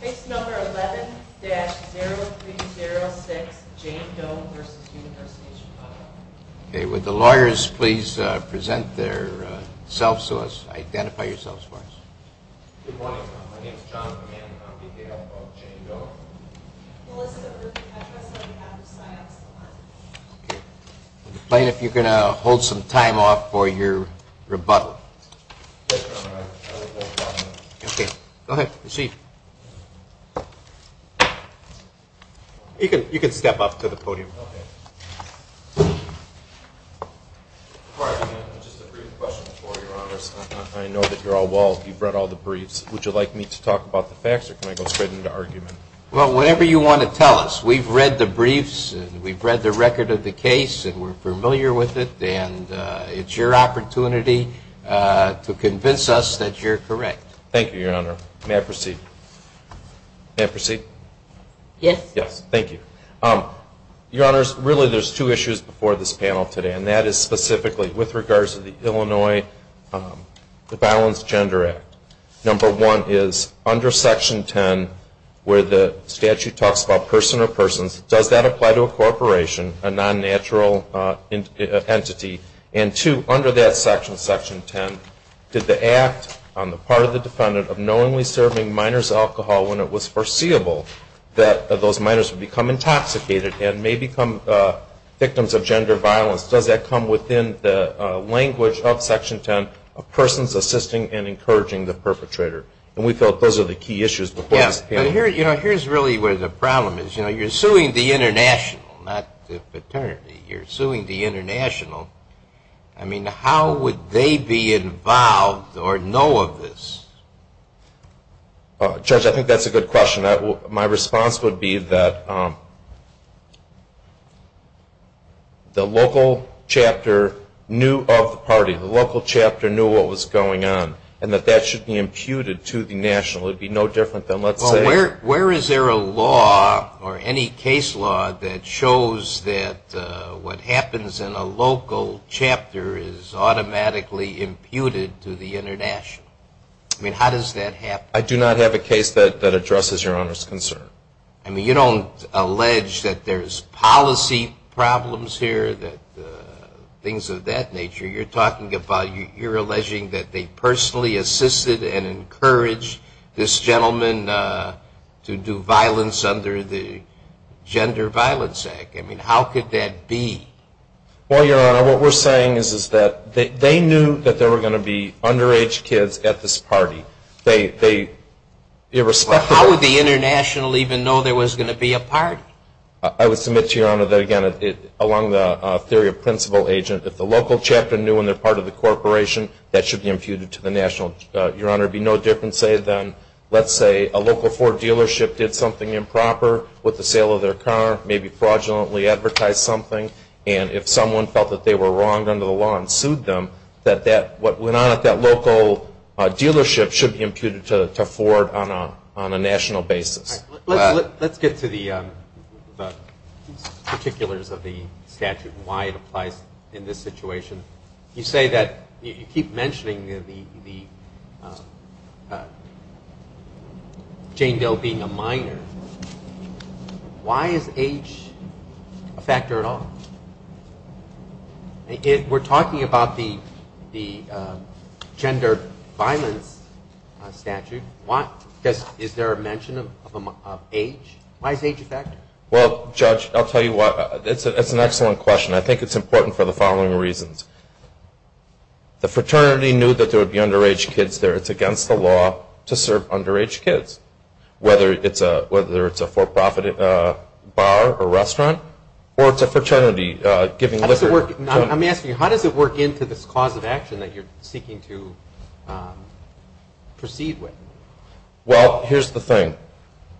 Case number 11-0306, Jane Doe v. University of Chicago. Good morning, my name is John Comand, I'm the D.A.O. of Jane Doe. Melissa Irby, I trust that you have the signups online. I'm complaining if you can hold some time off for your rebuttal. Yes, Your Honor, I will hold time off. Okay, go ahead, proceed. You can step up to the podium. Okay. Your Honor, just a brief question for Your Honor. I know that you're all well, you've read all the briefs. Would you like me to talk about the facts or can I go straight into argument? Well, whatever you want to tell us. We've read the briefs and we've read the record of the case and we're familiar with it and it's your opportunity to convince us that you're correct. Thank you, Your Honor. May I proceed? May I proceed? Yes. Yes, thank you. Your Honors, really there's two issues before this panel today and that is specifically with regards to the Illinois Violence Gender Act. Number one is under Section 10 where the statute talks about person or persons, does that apply to a corporation, a non-natural entity? And two, under that section, Section 10, did the act on the part of the defendant of knowingly serving minors alcohol when it was foreseeable that those minors would become intoxicated and may become victims of gender violence, does that come within the language of Section 10, persons assisting and encouraging the perpetrator? And we felt those are the key issues before this panel. Yes, but here's really where the problem is. You're suing the international, not the fraternity. You're suing the international. I mean, how would they be involved or know of this? Judge, I think that's a good question. My response would be that the local chapter knew of the party. The local chapter knew what was going on and that that should be imputed to the national. It would be no different than, let's say. Where is there a law or any case law that shows that what happens in a local chapter is automatically imputed to the international? I mean, how does that happen? I do not have a case that addresses Your Honor's concern. I mean, you don't allege that there's policy problems here, things of that nature. You're talking about you're alleging that they personally assisted and encouraged this gentleman to do violence under the Gender Violence Act. I mean, how could that be? Well, Your Honor, what we're saying is that they knew that there were going to be underage kids at this party. How would the international even know there was going to be a party? I would submit to Your Honor that, again, along the theory of principal agent, if the local chapter knew when they're part of the corporation, that should be imputed to the national. Your Honor, it would be no different, say, than, let's say, a local Ford dealership did something improper with the sale of their car, maybe fraudulently advertised something, and if someone felt that they were wronged under the law and sued them, that what went on at that local dealership should be imputed to Ford on a national basis. Let's get to the particulars of the statute and why it applies in this situation. You say that you keep mentioning the Jane Doe being a minor. Why is age a factor at all? We're talking about the gender violence statute. Is there a mention of age? Why is age a factor? Well, Judge, I'll tell you why. It's an excellent question. I think it's important for the following reasons. The fraternity knew that there would be underage kids there. It's against the law to serve underage kids, whether it's a for-profit bar or restaurant or it's a fraternity giving liquor. I'm asking you, how does it work into this cause of action that you're seeking to proceed with? Well, here's the thing.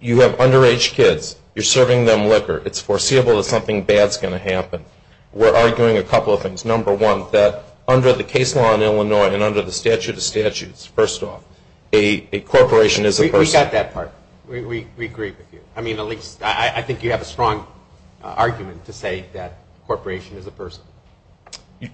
You have underage kids. You're serving them liquor. It's foreseeable that something bad is going to happen. We're arguing a couple of things. Number one, that under the case law in Illinois and under the statute of statutes, first off, a corporation is a person. We got that part. We agree with you. I mean, at least I think you have a strong argument to say that a corporation is a person.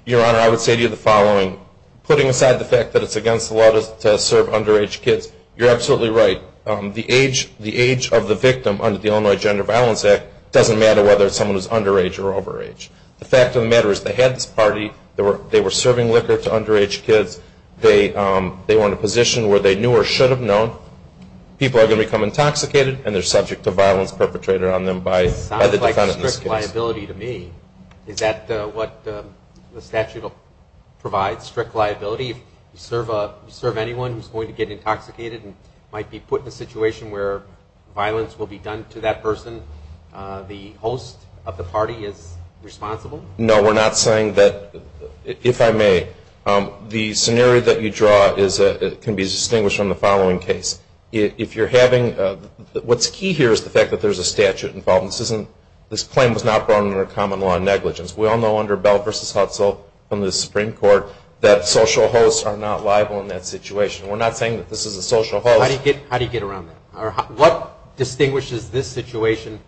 Your Honor, I would say to you the following. Putting aside the fact that it's against the law to serve underage kids, you're absolutely right. The age of the victim under the Illinois Gender Violence Act doesn't matter whether someone is underage or overage. The fact of the matter is they had this party. They were serving liquor to underage kids. They were in a position where they knew or should have known people are going to become intoxicated and they're subject to violence perpetrated on them by the defendant in this case. It sounds like strict liability to me. Is that what the statute provides, strict liability? If you serve anyone who's going to get intoxicated and might be put in a situation where violence will be done to that person, the host of the party is responsible? No, we're not saying that. If I may, the scenario that you draw can be distinguished from the following case. What's key here is the fact that there's a statute involved. This claim was not brought under common law negligence. We all know under Bell v. Hudson from the Supreme Court that social hosts are not liable in that situation. We're not saying that this is a social host. How do you get around that? What distinguishes this situation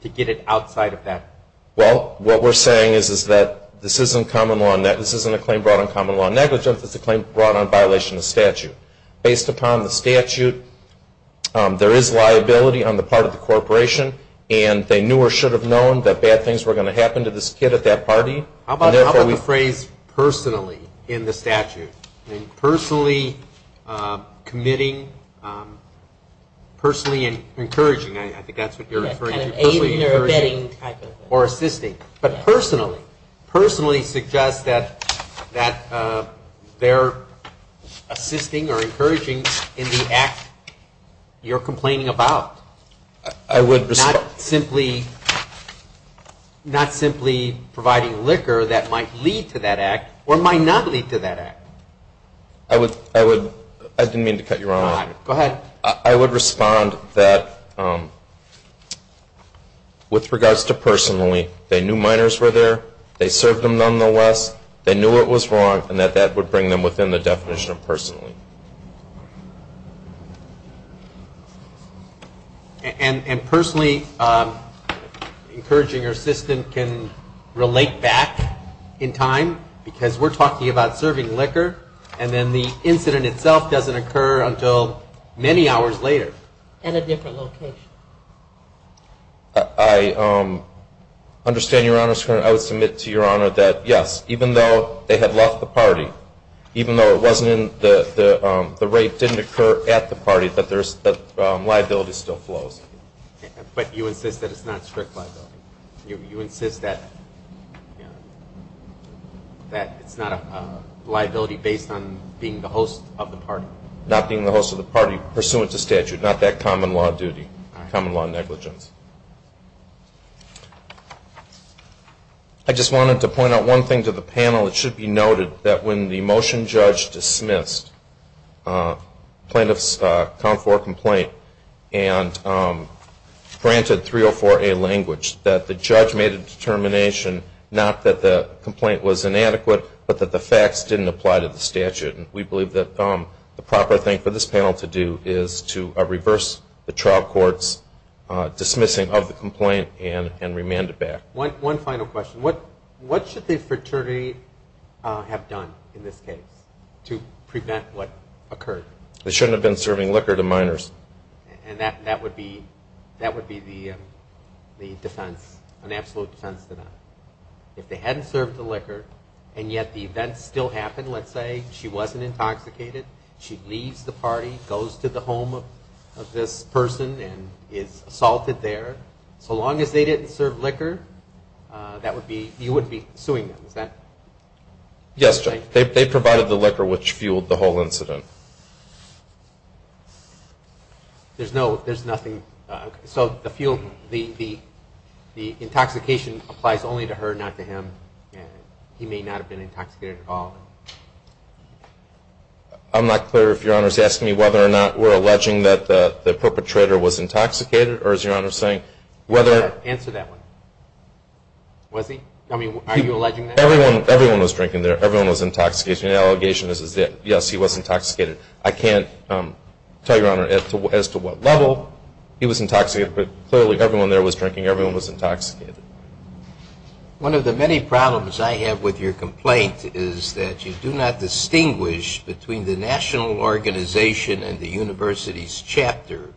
to get it outside of that? Well, what we're saying is that this isn't a claim brought on common law negligence. It's a claim brought on violation of statute. Based upon the statute, there is liability on the part of the corporation, and they knew or should have known that bad things were going to happen to this kid at that party. How about the phrase, personally, in the statute? Personally committing, personally encouraging. I think that's what you're referring to. Aiding or abetting. Or assisting. But personally. Personally suggests that they're assisting or encouraging in the act you're complaining about. Not simply providing liquor that might lead to that act or might not lead to that act. I didn't mean to cut you off. Go ahead. I would respond that with regards to personally, they knew minors were there, they served them nonetheless, they knew it was wrong, and that that would bring them within the definition of personally. And personally encouraging or assisting can relate back in time, because we're talking about serving liquor, and then the incident itself doesn't occur until many hours later. At a different location. I understand, Your Honor, I would submit to Your Honor that, yes, even though they had left the party, even though the rape didn't occur at the party, that liability still flows. But you insist that it's not strict liability. You insist that it's not a liability based on being the host of the party. Not being the host of the party pursuant to statute. Not that common law duty. Common law negligence. I just wanted to point out one thing to the panel. It should be noted that when the motion judge dismissed plaintiff's count for complaint and granted 304A language, that the judge made a determination, not that the complaint was inadequate, but that the facts didn't apply to the statute. We believe that the proper thing for this panel to do is to reverse the trial court's dismissing of the complaint and remand it back. One final question. What should the fraternity have done in this case to prevent what occurred? They shouldn't have been serving liquor to minors. And that would be the defense, an absolute defense to that. If they hadn't served the liquor and yet the event still happened, let's say she wasn't intoxicated, she leaves the party, goes to the home of this person and is assaulted there, so long as they didn't serve liquor, you wouldn't be suing them, is that right? Yes, they provided the liquor which fueled the whole incident. There's nothing, so the fuel, the intoxication applies only to her, not to him. He may not have been intoxicated at all. I'm not clear if Your Honor is asking me whether or not we're alleging that the perpetrator was intoxicated or is Your Honor saying whether... Answer that one. Was he? I mean, are you alleging that? Everyone was drinking there. Everyone was intoxicated. The allegation is that, yes, he was intoxicated. I can't tell Your Honor as to what level he was intoxicated, but clearly everyone there was drinking. Everyone was intoxicated. One of the many problems I have with your complaint is that you do not distinguish between the national organization and the university's chapter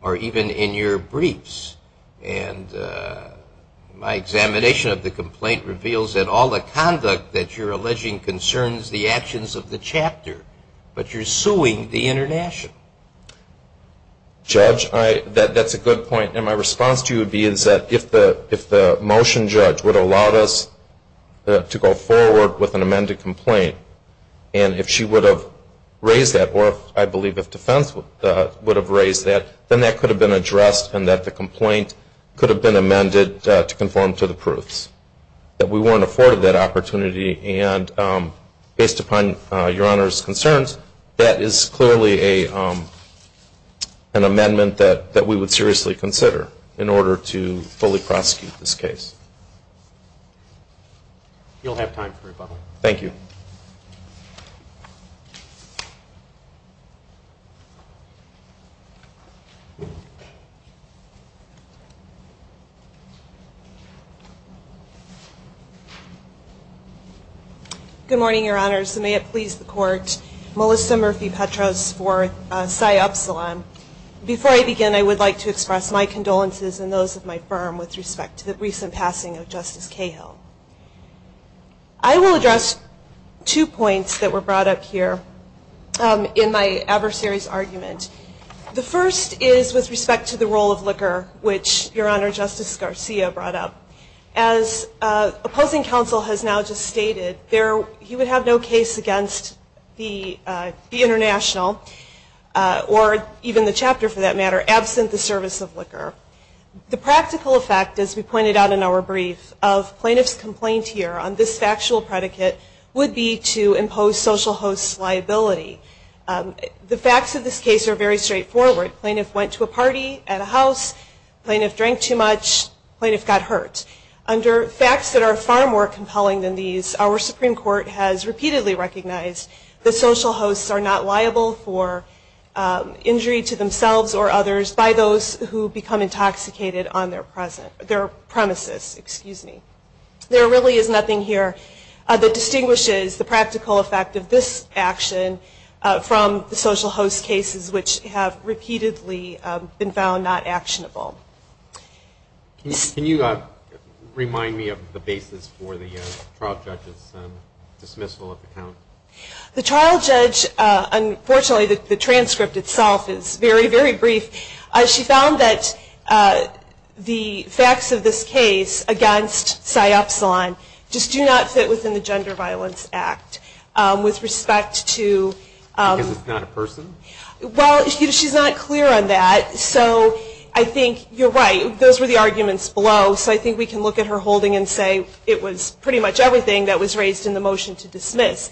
or even in your briefs. And my examination of the complaint reveals that all the conduct that you're alleging concerns the actions of the chapter, but you're suing the international. Judge, that's a good point, and my response to you would be is that if the motion judge would allow us to go forward with an amended complaint and if she would have raised that, or I believe if defense would have raised that, then that could have been addressed and that the complaint could have been amended to conform to the proofs, that we weren't afforded that opportunity. And based upon Your Honor's concerns, that is clearly an amendment that we would seriously consider in order to fully prosecute this case. You'll have time for rebuttal. Thank you. Good morning, Your Honors. And may it please the Court, Melissa Murphy-Petros for PSI Upsilon. Before I begin, I would like to express my condolences and those of my firm with respect to the recent passing of Justice Cahill. I will address two points that were brought up here in my adversary's argument. The first is with respect to the role of liquor, which Your Honor, Justice Garcia brought up. As opposing counsel has now just stated, he would have no case against the international, or even the chapter for that matter, absent the service of liquor. The practical effect, as we pointed out in our brief, of plaintiff's complaint here on this factual predicate would be to impose social host's liability. The facts of this case are very straightforward. Plaintiff went to a party at a house. Plaintiff drank too much. Plaintiff got hurt. Under facts that are far more compelling than these, our Supreme Court has repeatedly recognized that social hosts are not liable for injury to themselves or others by those who become intoxicated on their premises. There really is nothing here that distinguishes the practical effect of this action from the social host cases, which have repeatedly been found not actionable. Can you remind me of the basis for the trial judge's dismissal of the count? The trial judge, unfortunately the transcript itself is very, very brief. She found that the facts of this case against PSY EPSILON just do not fit within the Gender Violence Act with respect to... Because it's not a person? Well, she's not clear on that, so I think you're right. Those were the arguments below, so I think we can look at her holding and say it was pretty much everything that was raised in the motion to dismiss.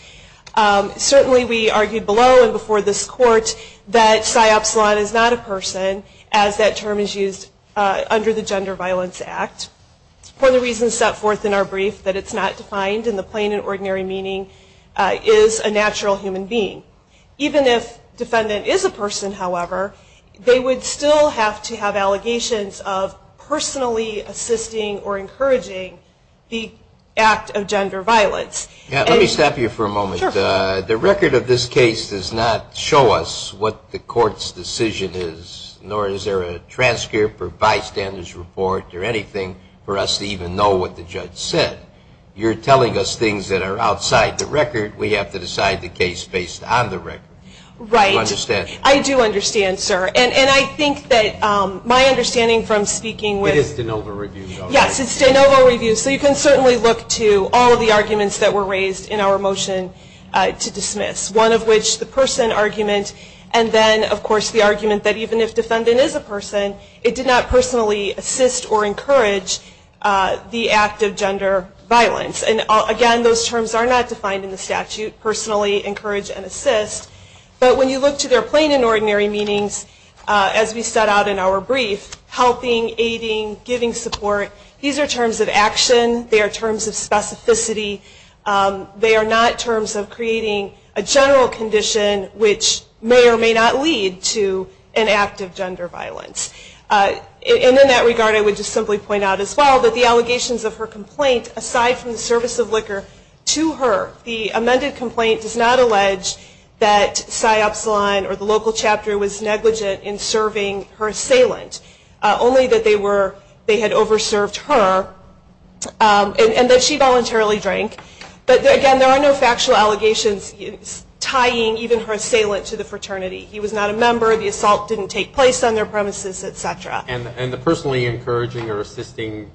Certainly we argued below and before this Court that PSY EPSILON is not a person as that term is used under the Gender Violence Act. One of the reasons set forth in our brief that it's not defined in the plain and ordinary meaning is a natural human being. Even if defendant is a person, however, they would still have to have allegations of personally assisting or encouraging the act of gender violence. Let me stop you for a moment. The record of this case does not show us what the Court's decision is, nor is there a transcript or bystander's report or anything for us to even know what the judge said. You're telling us things that are outside the record. We have to decide the case based on the record. Right. Do you understand? I do understand, sir. And I think that my understanding from speaking with... It is de novo review, though, right? Yes, it's de novo review, so you can certainly look to all of the arguments that were raised in our motion to dismiss, one of which the person argument and then, of course, the argument that even if defendant is a person, it did not personally assist or encourage the act of gender violence. Again, those terms are not defined in the statute, personally encourage and assist. But when you look to their plain and ordinary meanings, as we set out in our brief, helping, aiding, giving support, these are terms of action. They are terms of specificity. They are not terms of creating a general condition, which may or may not lead to an act of gender violence. And in that regard, I would just simply point out as well that the allegations of her complaint, aside from the service of liquor to her, the amended complaint does not allege that Psy Epsilon or the local chapter was negligent in serving her assailant, only that they had over-served her and that she voluntarily drank. But, again, there are no factual allegations tying even her assailant to the fraternity. He was not a member. The assault didn't take place on their premises, et cetera. And the personally encouraging or assisting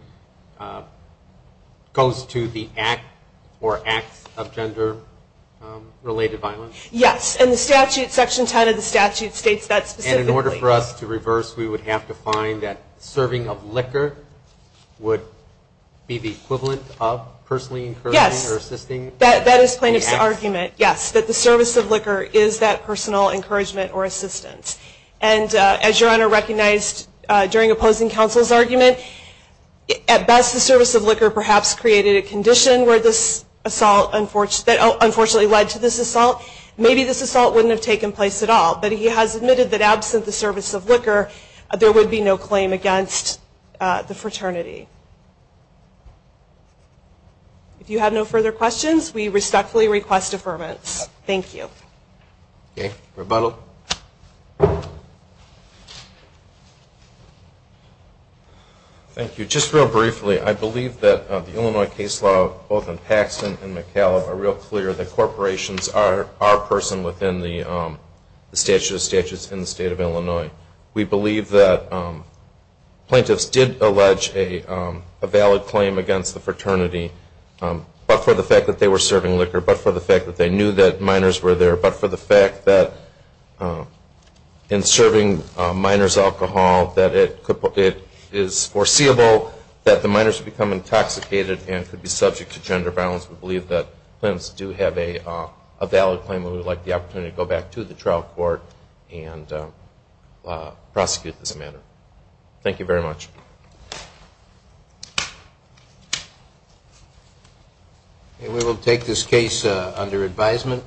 goes to the act or acts of gender-related violence? Yes. And the statute, Section 10 of the statute, states that specifically. And in order for us to reverse, we would have to find that serving of liquor would be the equivalent of personally encouraging or assisting? Yes. That is plaintiff's argument, yes, that the service of liquor is that personal encouragement or assistance. And as Your Honor recognized during opposing counsel's argument, at best the service of liquor perhaps created a condition where this assault unfortunately led to this assault. Maybe this assault wouldn't have taken place at all. But he has admitted that absent the service of liquor, there would be no claim against the fraternity. If you have no further questions, we respectfully request affirmance. Thank you. Okay. Rebuttal. Thank you. Just real briefly, I believe that the Illinois case law both in Paxton and McAlib are real clear that corporations are a person within the statute of statutes in the State of Illinois. We believe that plaintiffs did allege a valid claim against the fraternity, but for the fact that they were serving liquor, but for the fact that they knew that minors were there, but for the fact that in serving minors alcohol that it is foreseeable that the minors would become intoxicated and could be subject to gender violence. We believe that plaintiffs do have a valid claim and we would like the opportunity to go back to the trial court and prosecute this matter. Thank you very much. We will take this case under advisement.